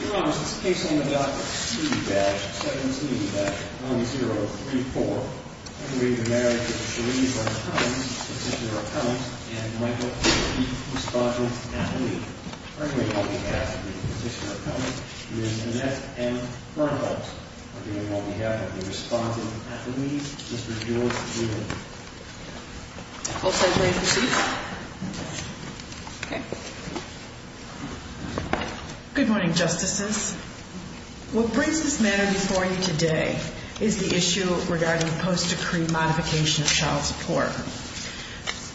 Your Honor, this is a case on the Doctrine C-17-1034, arguing the marriage of Cherie Verhines, the petitioner-accountant, and Michael O'Keefe, the responsible athlete. Arguing on behalf of the petitioner-accountant, is Annette M. Bernholtz. Arguing on behalf of the responsible athlete, is Mr. George Doolittle. Both sides may proceed. Good morning, Justices. What brings this matter before you today is the issue regarding post-decree modification of child support.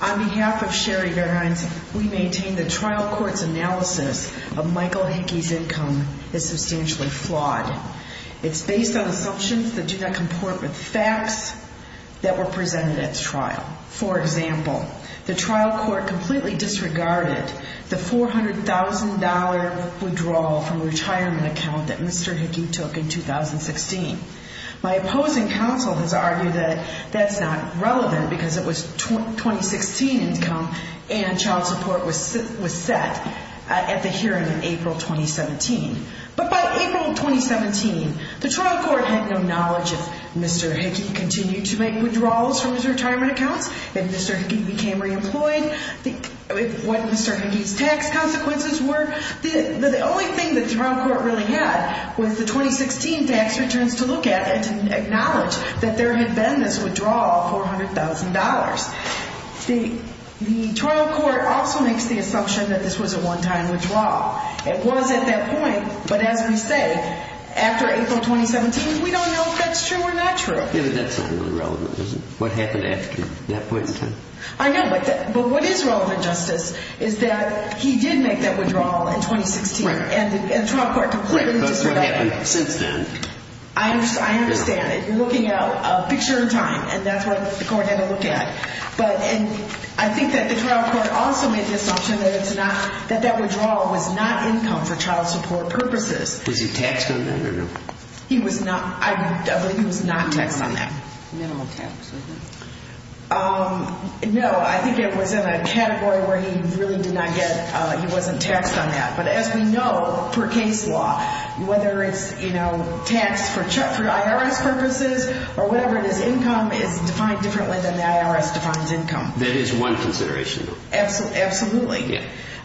On behalf of Cherie Verhines, we maintain the trial court's analysis of Michael O'Keefe's income is substantially flawed. It's based on assumptions that do not comport with facts that were presented at the trial. For example, the trial court completely disregarded the $400,000 withdrawal from a retirement account that Mr. Hickey took in 2016. My opposing counsel has argued that that's not relevant because it was 2016 income and child support was set at the hearing in April 2017. But by April 2017, the trial court had no knowledge if Mr. Hickey continued to make withdrawals from his retirement accounts, if Mr. Hickey became re-employed, what Mr. Hickey's tax consequences were. The only thing that the trial court really had was the 2016 tax returns to look at and to acknowledge that there had been this withdrawal of $400,000. The trial court also makes the assumption that this was a one-time withdrawal. It was at that point, but as we say, after April 2017, we don't know if that's true or not true. Yeah, but that's not really relevant, what happened after that point in time. I know, but what is relevant, Justice, is that he did make that withdrawal in 2016 and the trial court completely disregarded it. Right, but that's what happened since then. I understand it. You're looking at a picture in time and that's what the court had to look at. But I think that the trial court also made the assumption that that withdrawal was not income for child support purposes. Was he taxed on that or no? He was not taxed on that. Minimal tax. No, I think it was in a category where he really did not get, he wasn't taxed on that. But as we know, per case law, whether it's taxed for IRS purposes or whatever it is, income is defined differently than the IRS defines income. That is one consideration, though. Absolutely.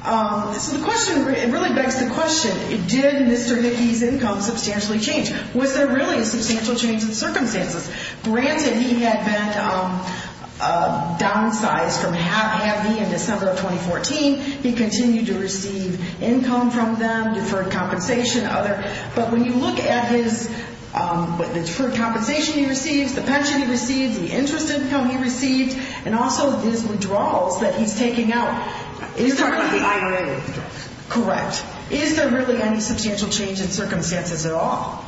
So the question, it really begs the question, did Mr. Hickey's income substantially change? Was there really a substantial change in circumstances? Granted, he had been downsized from half-heavy in December of 2014. He continued to receive income from them, deferred compensation, other. But when you look at his deferred compensation he receives, the pension he receives, the interest income he received, and also his withdrawals that he's taking out. You're talking about the IRA withdrawals. Correct. Is there really any substantial change in circumstances at all?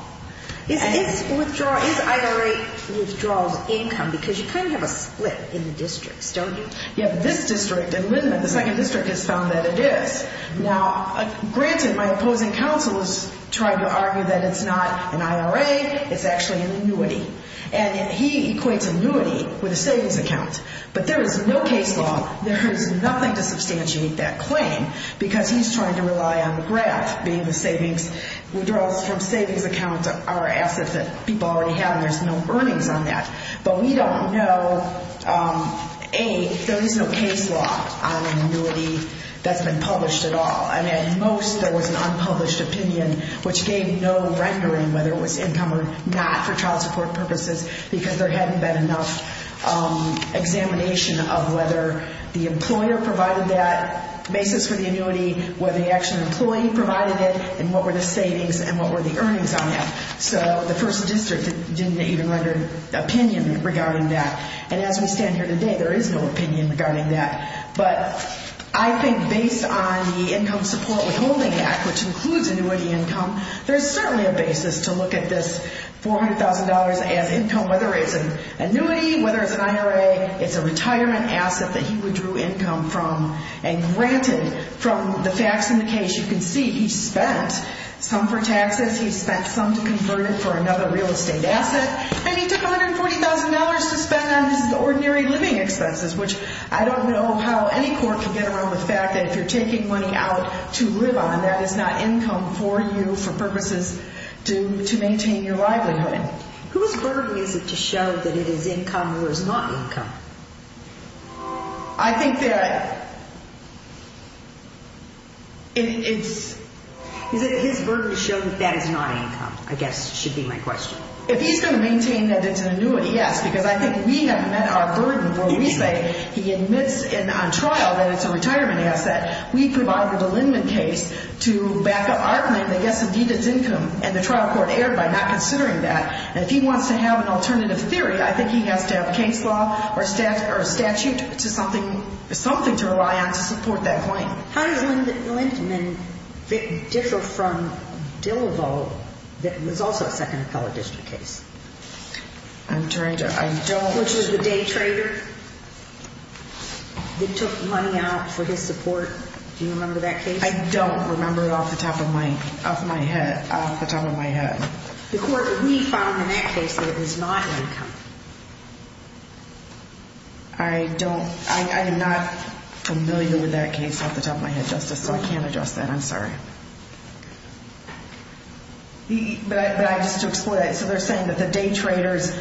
Is IRA withdrawals income? Because you kind of have a split in the districts, don't you? Yeah, this district, in Lindman, the second district has found that it is. Now, granted, my opposing counsel is trying to argue that it's not an IRA, it's actually an annuity. And he equates annuity with a savings account. But there is no case law, there is nothing to substantiate that claim, because he's trying to rely on the grant being the savings. Withdrawals from savings accounts are assets that people already have and there's no earnings on that. But we don't know, A, if there is no case law on annuity that's been published at all. I mean, at most there was an unpublished opinion which gave no rendering whether it was income or not for child support purposes because there hadn't been enough examination of whether the employer provided that basis for the annuity, whether the actual employee provided it, and what were the savings and what were the earnings on that. So the first district didn't even render opinion regarding that. And as we stand here today, there is no opinion regarding that. But I think based on the Income Support Withholding Act, which includes annuity income, there's certainly a basis to look at this $400,000 as income, whether it's an annuity, whether it's an IRA, it's a retirement asset that he withdrew income from and granted from the facts in the case. You can see he spent some for taxes, he spent some to convert it for another real estate asset, and he took $140,000 to spend on his ordinary living expenses, which I don't know how any court can get around the fact that if you're taking money out to live on, that is not income for you for purposes to maintain your livelihood. Whose burden is it to show that it is income or is not income? I think that it's... Is it his burden to show that that is not income, I guess, should be my question. If he's going to maintain that it's an annuity, yes, because I think we have met our burden where we say he admits on trial that it's a retirement asset. We provide the Dillinman case to back up our claim that yes, indeed, it's income, and the trial court erred by not considering that. And if he wants to have an alternative theory, I think he has to have a case law or a statute to something to rely on to support that claim. How does Linton and Dick differ from Dillivo, that was also a Second Appellate District case? I'm trying to... Which is the day trader that took money out for his support. Do you remember that case? I don't remember off the top of my head. The court, we found in that case that it was not income. I don't... I am not familiar with that case off the top of my head, Justice, so I can't address that. I'm sorry. But just to explore that, so they're saying that the day trader's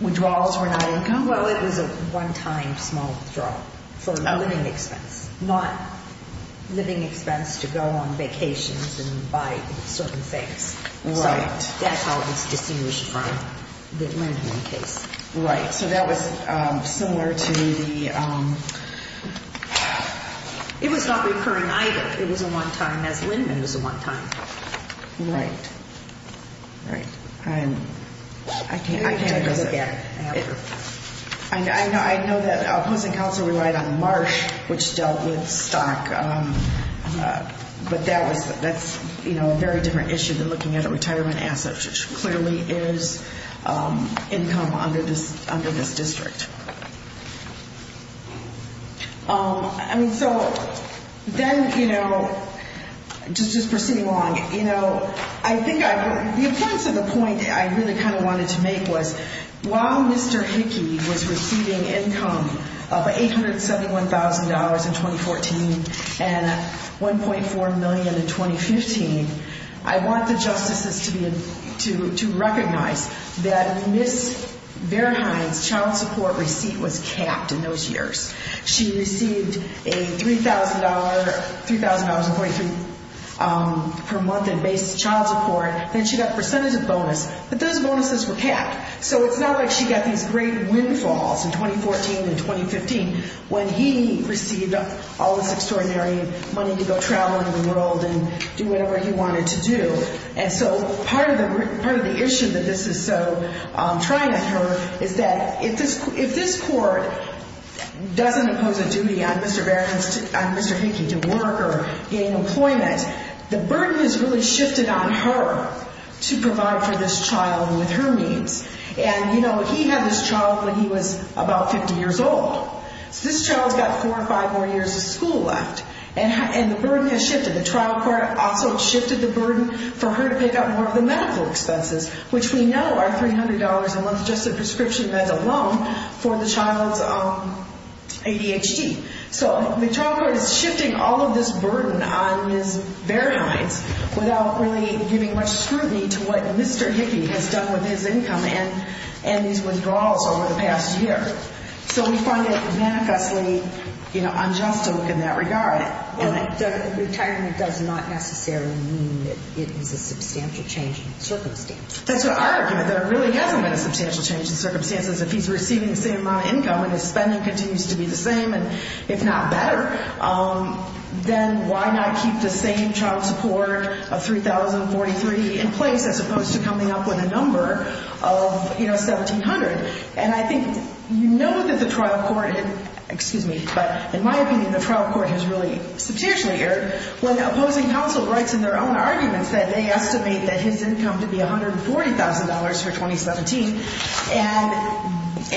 withdrawals were not income? Well, it was a one-time small withdrawal for a living expense, not living expense to go on vacations and buy certain things. Right. So that's how it was distinguished from the Linton case. Right. So that was similar to the... It was not recurring either. It was a one-time, as Linton was a one-time. Right. Right. I can't address it. I have to. I know that opposing counsel relied on Marsh, which dealt with stock, but that's a very different issue than looking at a retirement asset, which clearly is income under this district. I mean, so then, you know, just proceeding along, you know, I think the importance of the point I really kind of wanted to make was that while Mr. Hickey was receiving income of $871,000 in 2014 and $1.4 million in 2015, I want the justices to recognize that Ms. Verheyen's child support receipt was capped in those years. She received $3,000.23 per month in base child support, then she got a percentage of bonus, but those bonuses were capped. So it's not like she got these great windfalls in 2014 and 2015 when he received all this extraordinary money to go travel around the world and do whatever he wanted to do. And so part of the issue that this is so trying on her is that if this court doesn't impose a duty on Mr. Hickey to work or gain employment, the burden is really shifted on her to provide for this child with her needs. And, you know, he had this child when he was about 50 years old. So this child's got four or five more years of school left, and the burden has shifted. The trial court also shifted the burden for her to pick up more of the medical expenses, which we know are $300 a month just in prescription meds alone for the child's ADHD. So the trial court is shifting all of this burden on Ms. Bearhines without really giving much scrutiny to what Mr. Hickey has done with his income and his withdrawals over the past year. So we find it manaculously unjust to look in that regard. Well, the retirement does not necessarily mean that it is a substantial change in circumstances. That's what our argument, that it really hasn't been a substantial change in circumstances. If he's receiving the same amount of income and his spending continues to be the same, and if not better, then why not keep the same child support of $3,043 in place as opposed to coming up with a number of, you know, $1,700. And I think you know that the trial court, excuse me, but in my opinion, the trial court has really substantially erred when opposing counsel writes in their own arguments that they estimate that his income to be $140,000 for 2017.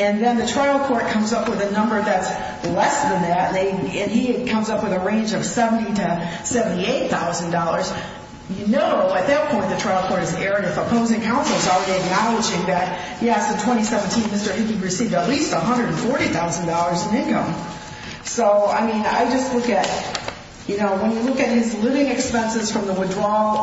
And then the trial court comes up with a number that's less than that, and he comes up with a range of $70,000 to $78,000. You know at that point the trial court has erred if opposing counsel is already acknowledging that, yes, in 2017 Mr. Hickey received at least $140,000 in income. So, I mean, I just look at, you know, when you look at his living expenses from the withdrawal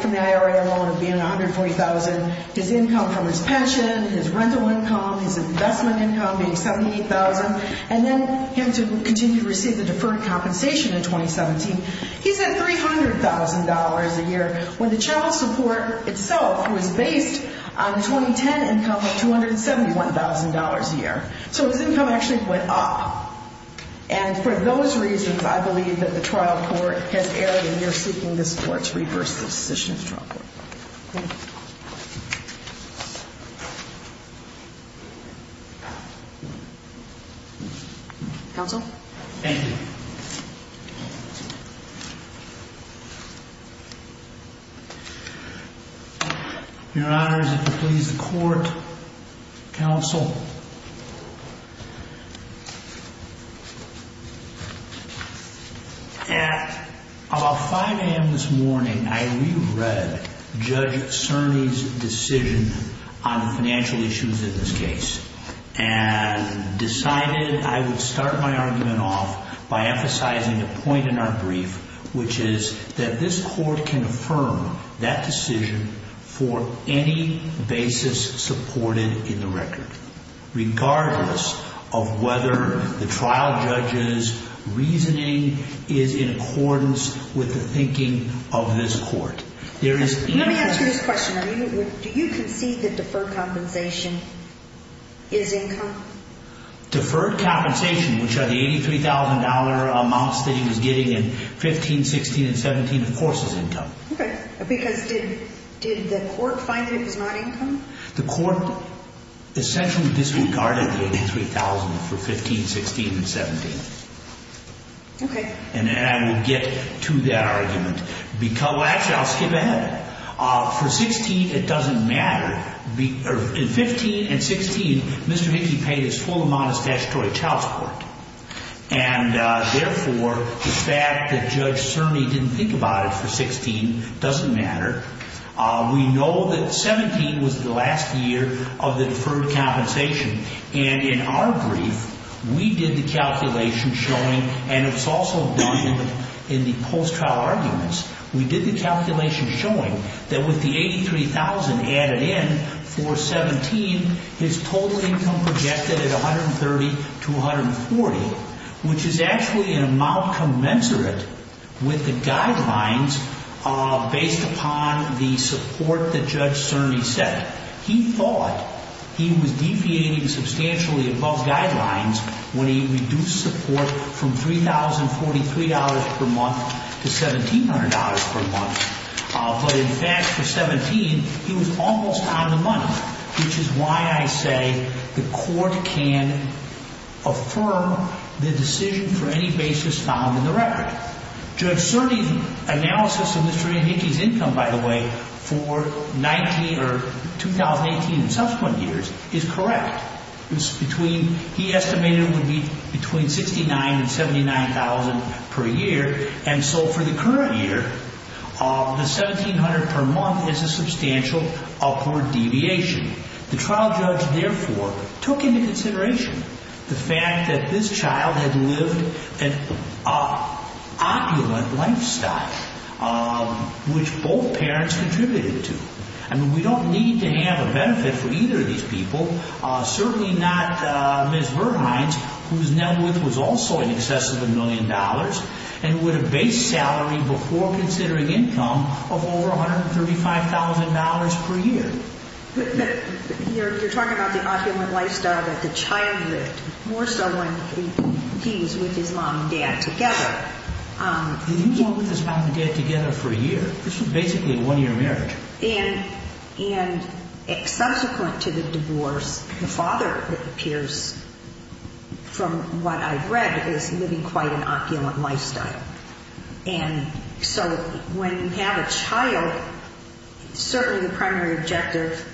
from the IRA loan of being $140,000, his income from his pension, his rental income, his investment income being $78,000, and then him to continue to receive the deferred compensation in 2017, he's at $300,000 a year when the child support itself was based on 2010 income of $271,000 a year. So his income actually went up. And for those reasons I believe that the trial court has erred and you're seeking this court to reverse the decision of the trial court. Counsel? Thank you. Your Honor, is it to please the court? Counsel? At about 5 a.m. this morning I reread Judge Cerny's decision on financial issues in this case and decided I would start my argument off by emphasizing a point in our brief, which is that this court can affirm that decision for any basis supported in the record, regardless of whether the trial judge's reasoning is in accordance with the thinking of this court. Let me ask you this question. Do you concede that deferred compensation is income? Deferred compensation, which are the $83,000 amounts that he was getting in 15, 16, and 17, of course is income. Okay, because did the court find that it was not income? The court essentially disregarded the $83,000 for 15, 16, and 17. Okay. And I will get to that argument. Actually, I'll skip ahead. For 16, it doesn't matter. In 15 and 16, Mr. Hickey paid his full amount as statutory child support. And therefore, the fact that Judge Cerny didn't think about it for 16 doesn't matter. We know that 17 was the last year of the deferred compensation. And in our brief, we did the calculation showing, and it was also done in the post-trial arguments, we did the calculation showing that with the $83,000 added in for 17, his total income projected at $130,000 to $140,000, which is actually an amount commensurate with the guidelines based upon the support that Judge Cerny set. He thought he was deviating substantially above guidelines when he reduced support from $3,043 per month to $1,700 per month. But in fact, for 17, he was almost on the money, which is why I say the court can affirm the decision for any basis found in the record. Judge Cerny's analysis of Mr. Hickey's income, by the way, for 2018 and subsequent years is correct. He estimated it would be between $69,000 and $79,000 per year. And so for the current year, the $1,700 per month is a substantial upward deviation. The trial judge, therefore, took into consideration the fact that this child had lived an opulent lifestyle, which both parents contributed to. I mean, we don't need to have a benefit for either of these people, certainly not Ms. Verhines, whose net worth was also in excess of a million dollars, and with a base salary before considering income of over $135,000 per year. But you're talking about the opulent lifestyle that the child lived, more so when he was with his mom and dad together. He was with his mom and dad together for a year. This was basically a one-year marriage. And subsequent to the divorce, the father, it appears from what I've read, is living quite an opulent lifestyle. And so when you have a child, certainly the primary objective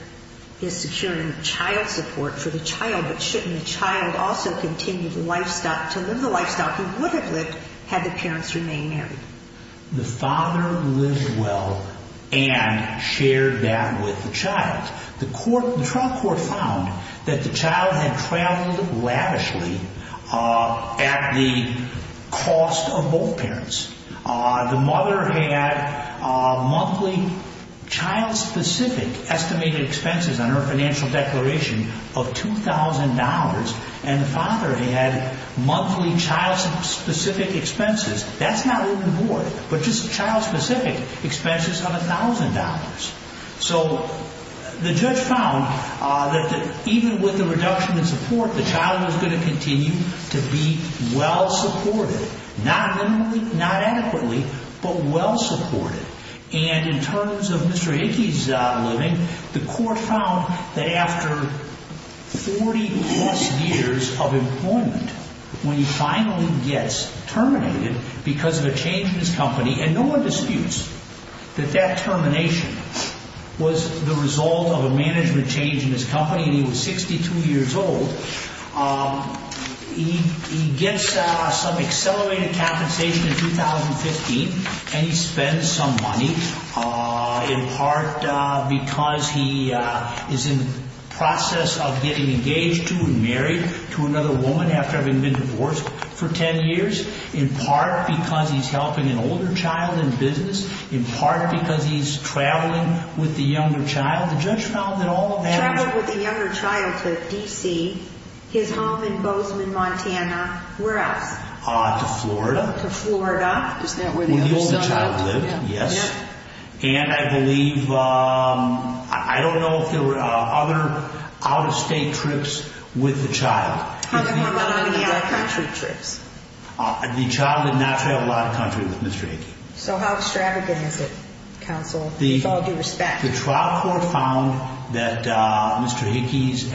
is securing child support for the child, but shouldn't the child also continue to live the lifestyle he would have lived had the parents remained married? The father lived well and shared that with the child. The trial court found that the child had traveled lavishly at the cost of both parents. The mother had monthly child-specific estimated expenses on her financial declaration of $2,000, and the father had monthly child-specific expenses. That's not written aboard, but just child-specific expenses of $1,000. So the judge found that even with the reduction in support, the child was going to continue to be well-supported. Not minimally, not adequately, but well-supported. And in terms of Mr. Hickey's living, the court found that after 40-plus years of employment, when he finally gets terminated because of a change in his company, and no one disputes that that termination was the result of a management change in his company, and he was 62 years old, he gets some accelerated compensation in 2015, and he spends some money in part because he is in the process of getting engaged to and married to another woman after having been divorced for 10 years, in part because he's helping an older child in business, in part because he's traveling with the younger child. The judge found that all of that... Traveled with the younger child to D.C., his home in Bozeman, Montana. Where else? To Florida. To Florida. Isn't that where the older son lived? Where the older child lived, yes. And I believe, I don't know if there were other out-of-state trips with the child. How come there weren't any out-of-country trips? The child did not travel out-of-country with Mr. Hickey. So how extravagant is it, counsel, with all due respect? The trial court found that Mr. Hickey's,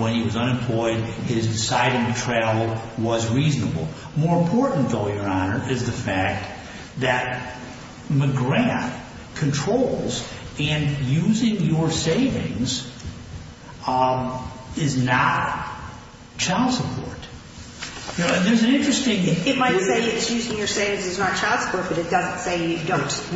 when he was unemployed, his deciding to travel was reasonable. More important, though, Your Honor, is the fact that McGrath controls, and using your savings is not child support. There's an interesting... It might say it's using your savings is not child support, but it doesn't say you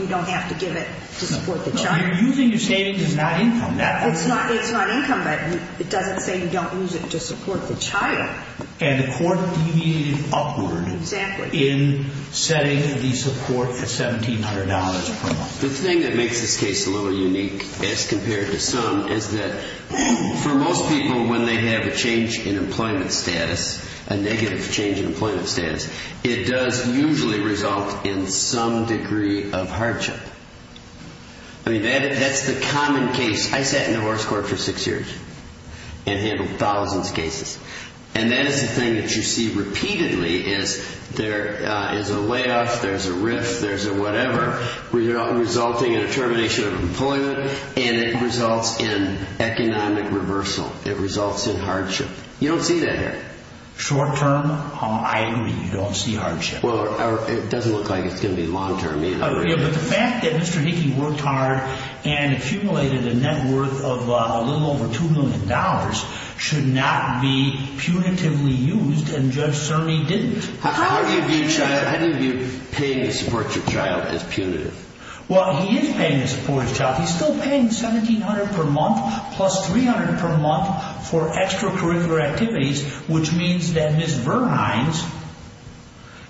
don't have to give it to support the child. Using your savings is not income. It's not income, but it doesn't say you don't use it to support the child. And the court deviated upward in setting the support at $1,700 per month. The thing that makes this case a little unique, as compared to some, is that for most people, when they have a change in employment status, a negative change in employment status, it does usually result in some degree of hardship. I mean, that's the common case. I sat in the horse court for six years and handled thousands of cases. And that is the thing that you see repeatedly is there is a layoff, there's a riff, there's a whatever, resulting in a termination of employment, and it results in economic reversal. It results in hardship. You don't see that here. Short-term, I agree, you don't see hardship. Well, it doesn't look like it's going to be long-term either. Yeah, but the fact that Mr. Hickey worked hard and accumulated a net worth of a little over $2 million should not be punitively used, and Judge Cerny didn't. How do you view paying to support your child as punitive? Well, he is paying to support his child. He's still paying $1,700 per month plus $300 per month for extracurricular activities, which means that Ms. Verhines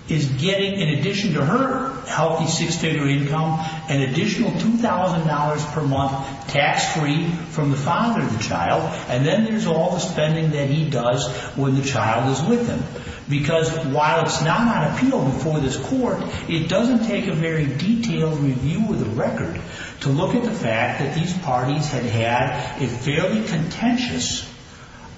is getting, in addition to her healthy six-figure income, an additional $2,000 per month tax-free from the father of the child, and then there's all the spending that he does when the child is with him. Because while it's not on appeal before this court, it doesn't take a very detailed review of the record to look at the fact that these parties had had a fairly contentious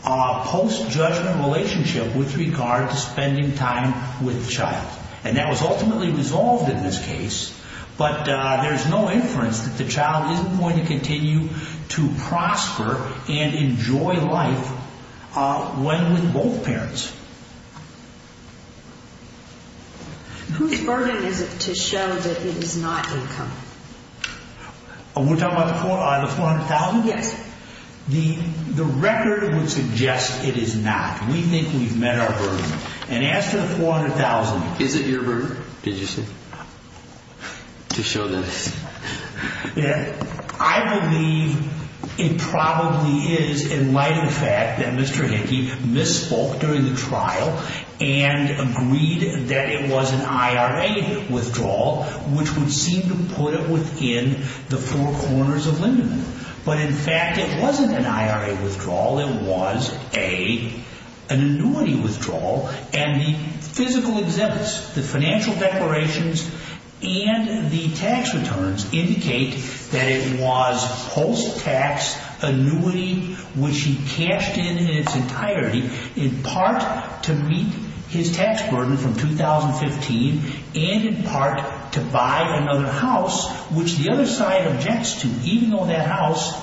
post-judgment relationship with regard to spending time with the child. And that was ultimately resolved in this case, but there's no inference that the child is going to continue to prosper and enjoy life when with both parents. Whose burden is it to show that it is not income? Are we talking about the $400,000? Yes. The record would suggest it is not. We think we've met our burden. And as to the $400,000... Is it your burden, did you say, to show that it's... I believe it probably is, in light of the fact that Mr. Hickey misspoke during the trial and agreed that it was an IRA withdrawal, which would seem to put it within the four corners of Lindeman. But, in fact, it wasn't an IRA withdrawal. It was an annuity withdrawal, and the physical exhibits, the financial declarations, and the tax returns indicate that it was post-tax annuity, which he cashed in in its entirety, in part to meet his tax burden from 2015, and in part to buy another house, which the other side objects to, even though that house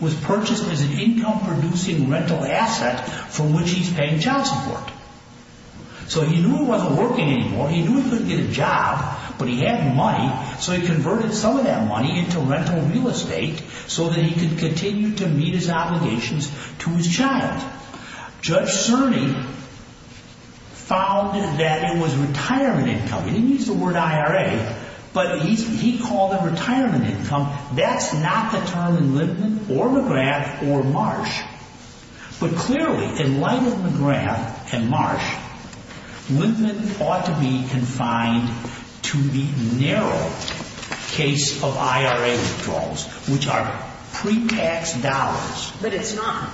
was purchased as an income-producing rental asset from which he's paying child support. So he knew it wasn't working anymore. He knew he couldn't get a job, but he had money, so he converted some of that money into rental real estate so that he could continue to meet his obligations to his child. Judge Cerny found that it was retirement income. He didn't use the word IRA, but he called it retirement income. That's not the term in Lindeman or McGrath or Marsh. But clearly, in light of McGrath and Marsh, Lindeman ought to be confined to the narrow case of IRA withdrawals, which are pre-tax dollars. But it's not.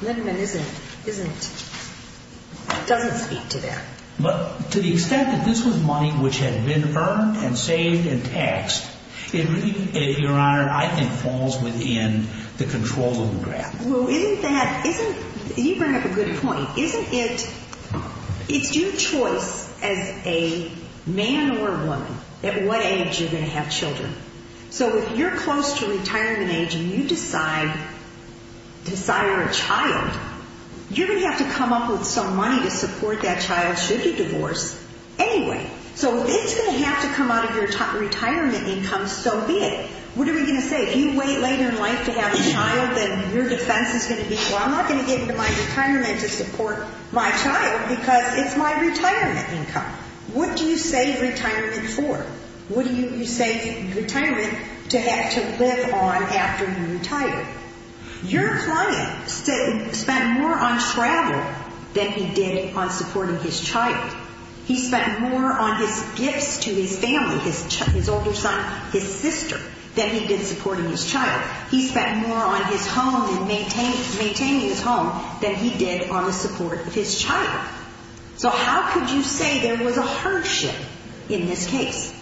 Lindeman doesn't speak to that. To the extent that this was money which had been earned and saved and taxed, it really, Your Honor, I think falls within the control of McGrath. Well, you bring up a good point. It's your choice as a man or a woman at what age you're going to have children. So if you're close to retirement age and you desire a child, you're going to have to come up with some money to support that child, should he divorce, anyway. So it's going to have to come out of your retirement income so be it. What are we going to say? If you wait later in life to have a child, then your defense is going to be, well, I'm not going to get into my retirement to support my child because it's my retirement income. What do you save retirement for? What do you save retirement to have to live on after you retire? Your client spent more on travel than he did on supporting his child. He spent more on his gifts to his family, his older son, his sister, than he did supporting his child. He spent more on his home and maintaining his home than he did on the support of his child. So how could you say there was a hardship in this case?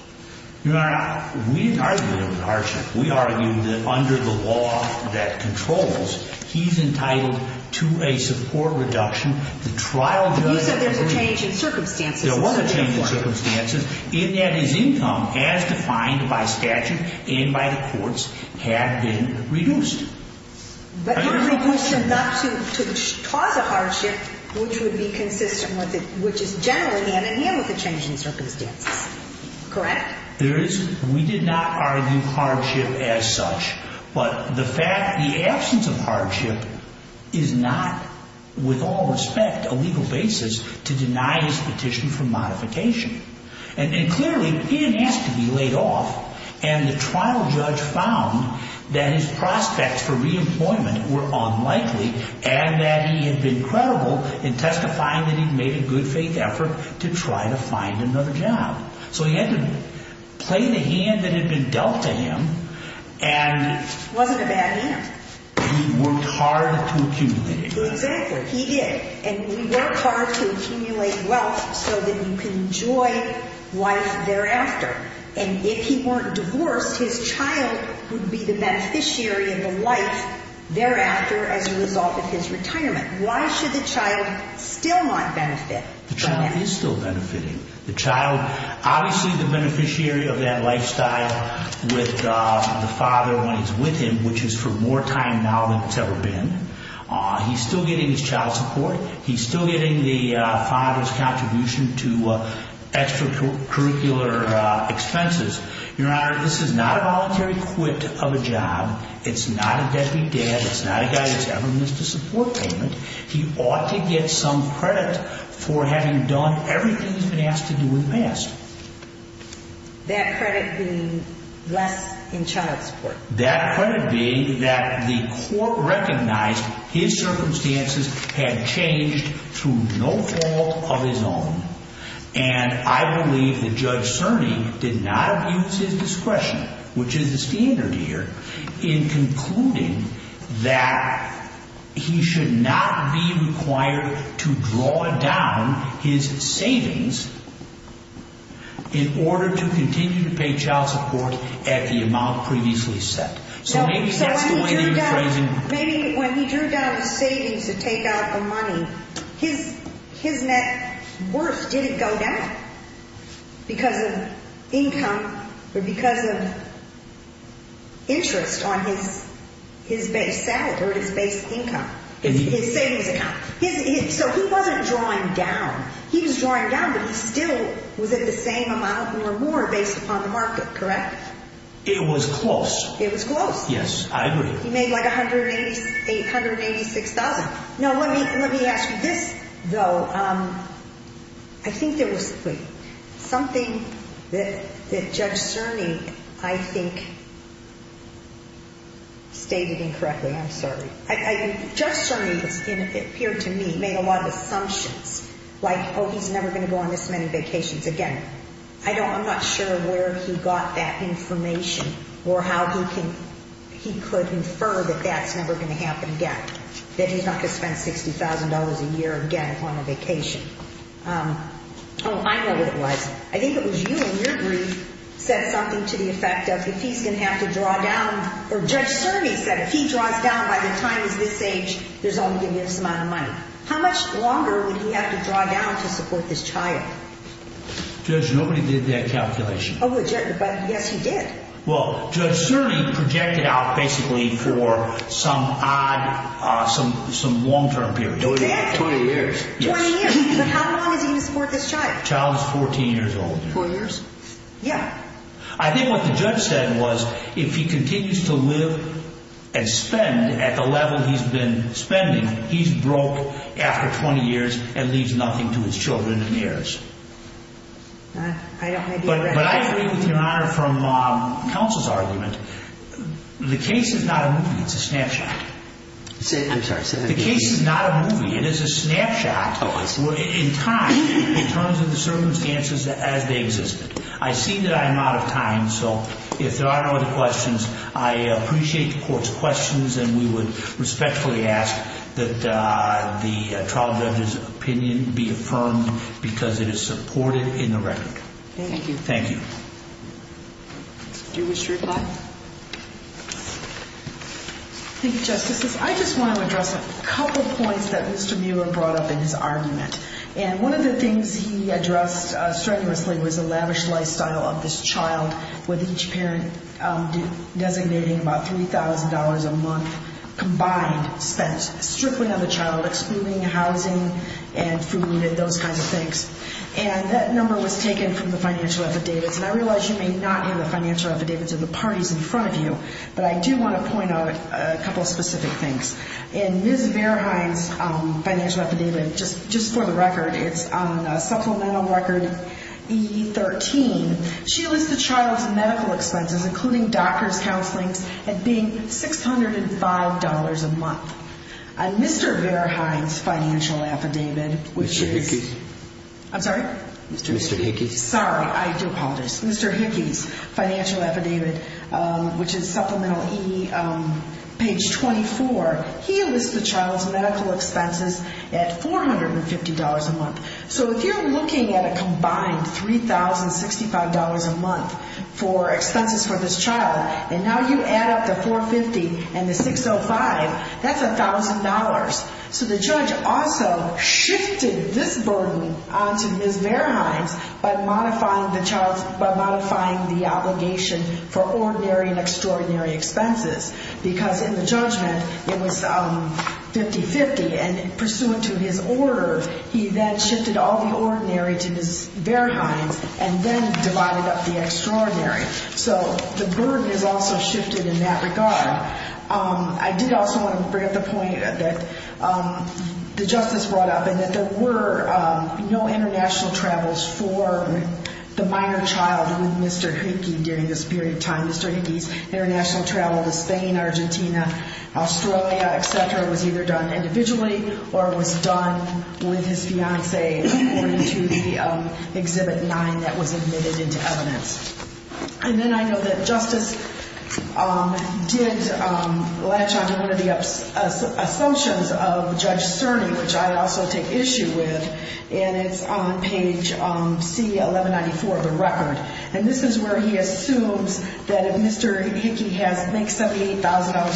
Your Honor, we didn't argue there was a hardship. We argued that under the law that controls, he's entitled to a support reduction. The trial judge agreed. There was a change in circumstances. In that his income, as defined by statute and by the courts, had been reduced. But not reduced enough to cause a hardship which would be consistent with it, which is generally the other hand with the change in circumstances. Correct? There is. We did not argue hardship as such. But the fact, the absence of hardship is not, with all respect, a legal basis to deny his petition for modification. And clearly, he didn't ask to be laid off. And the trial judge found that his prospects for re-employment were unlikely and that he had been credible in testifying that he'd made a good faith effort to try to find another job. So he had to play the hand that had been dealt to him. It wasn't a bad hand. He worked hard to accumulate it. Exactly. He did. And we work hard to accumulate wealth so that you can enjoy life thereafter. And if he weren't divorced, his child would be the beneficiary of the life thereafter as a result of his retirement. Why should the child still not benefit from that? The child is still benefiting. The child, obviously, the beneficiary of that lifestyle with the father when he's with him, which is for more time now than it's ever been. He's still getting his child support. He's still getting the father's contribution to extracurricular expenses. Your Honor, this is not a voluntary quit of a job. It's not a deadbeat dad. It's not a guy that's ever missed a support payment. He ought to get some credit for having done everything he's been asked to do in the past. That credit being less in child support? That credit being that the court recognized his circumstances had changed through no fault of his own. And I believe that Judge Cerny did not abuse his discretion, which is the standard here, in concluding that he should not be required to draw down his savings in order to continue to pay child support at the amount previously set. So maybe that's the way that you're phrasing it. Maybe when he drew down his savings to take out the money, his net worth didn't go down because of income or because of interest on his salary or his base income, his savings account. So he wasn't drawing down. He was drawing down, but he still was at the same amount or more based upon the market, correct? It was close. It was close. Yes, I agree. He made like $186,000. Now, let me ask you this, though. I think there was something that Judge Cerny, I think, stated incorrectly. I'm sorry. Judge Cerny, it appeared to me, made a lot of assumptions like, oh, he's never going to go on this many vacations again. I'm not sure where he got that information or how he could infer that that's never going to happen again, that he's not going to spend $60,000 a year again on a vacation. Oh, I know what it was. I think it was you in your brief said something to the effect of if he's going to have to draw down or Judge Cerny said if he draws down by the time he's this age, there's only going to be this amount of money. How much longer would he have to draw down to support this child? Judge, nobody did that calculation. Oh, but yes, you did. Well, Judge Cerny projected out basically for some odd, some long-term period. Exactly. 20 years. 20 years. But how long is he going to support this child? The child is 14 years old. Four years? Yeah. I think what the judge said was if he continues to live and spend at the level he's been spending, he's broke after 20 years and leaves nothing to his children and heirs. I don't agree with that. But I agree with Your Honor from counsel's argument. The case is not a movie. It's a snapshot. I'm sorry. The case is not a movie. It is a snapshot in time in terms of the circumstances as they existed. I see that I'm out of time, so if there are no other questions, I appreciate the court's questions and we would respectfully ask that the trial judge's opinion be affirmed because it is supported in the record. Thank you. Thank you. Do you wish to reply? Thank you, Justices. I just want to address a couple points that Mr. Muir brought up in his argument. And one of the things he addressed strenuously was the lavish lifestyle of this child, with each parent designating about $3,000 a month combined spent, stripping of the child, excluding housing and food and those kinds of things. And that number was taken from the financial affidavits. And I realize you may not have the financial affidavits of the parties in front of you, but I do want to point out a couple specific things. In Ms. Verheid's financial affidavit, just for the record, it's on Supplemental Record E13, she lists the child's medical expenses, including doctor's counseling, as being $605 a month. On Mr. Verheid's financial affidavit, which is Mr. Hickey's financial affidavit, which is Supplemental E, page 24, he lists the child's medical expenses at $450 a month. So if you're looking at a combined $3,065 a month for expenses for this child, and now you add up the $450 and the $605, that's $1,000. So the judge also shifted this burden onto Ms. Verheid by modifying the obligation for ordinary and extraordinary expenses, because in the judgment it was 50-50. And pursuant to his order, he then shifted all the ordinary to Ms. Verheid and then divided up the extraordinary. So the burden is also shifted in that regard. I did also want to bring up the point that the justice brought up and that there were no international travels for the minor child with Mr. Hickey during this period of time. Mr. Hickey's international travel to Spain, Argentina, Australia, et cetera, was either done individually or was done with his fiancée, according to the Exhibit 9 that was admitted into evidence. And then I know that justice did latch onto one of the assumptions of Judge Cerny, which I also take issue with, and it's on page C-1194 of the record. And this is where he assumes that if Mr. Hickey makes $78,000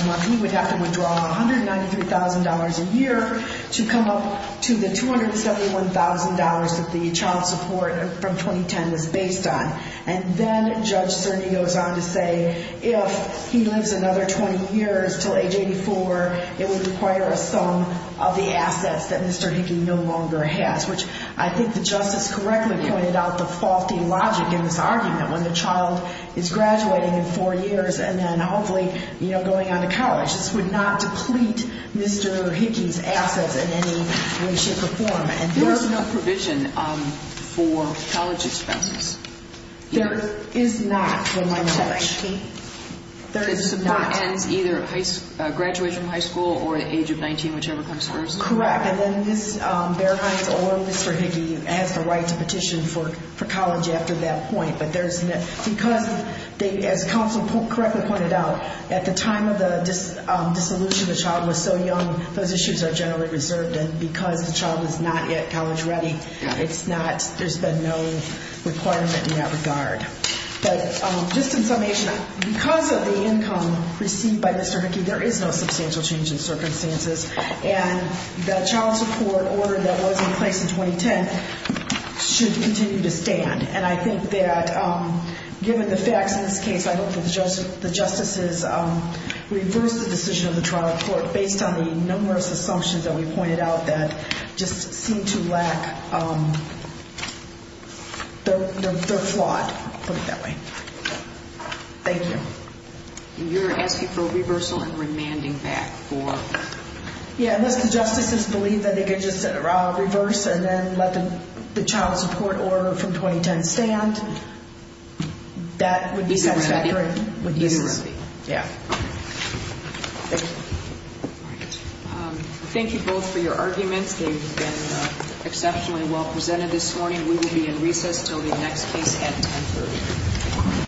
a month, he would have to withdraw $193,000 a year to come up to the $271,000 that the child support from 2010 was based on. And then Judge Cerny goes on to say if he lives another 20 years until age 84, it would require a sum of the assets that Mr. Hickey no longer has, which I think the justice correctly pointed out the faulty logic in this argument. When the child is graduating in four years and then hopefully going on to college, this would not deplete Mr. Hickey's assets in any way, shape, or form. And there is no provision for college expenses. There is not, to my knowledge. This does not end either graduation from high school or the age of 19, whichever comes first? Correct. And then Ms. Berheim or Mr. Hickey has the right to petition for college after that point. But because, as counsel correctly pointed out, at the time of the dissolution, the child was so young, those issues are generally reserved. And because the child is not yet college ready, there's been no requirement in that regard. But just in summation, because of the income received by Mr. Hickey, there is no substantial change in circumstances. And the child support order that was in place in 2010 should continue to stand. And I think that given the facts in this case, I hope that the justices reverse the decision of the trial court based on the numerous assumptions that we pointed out that just seem to lack, they're flawed. Put it that way. Thank you. You're asking for reversal and remanding back for? Yeah, unless the justices believe that they can just reverse and then let the child support order from 2010 stand, that would be satisfactory. Thank you both for your arguments. They've been exceptionally well presented this morning. We will be in recess until the next case at 10.30.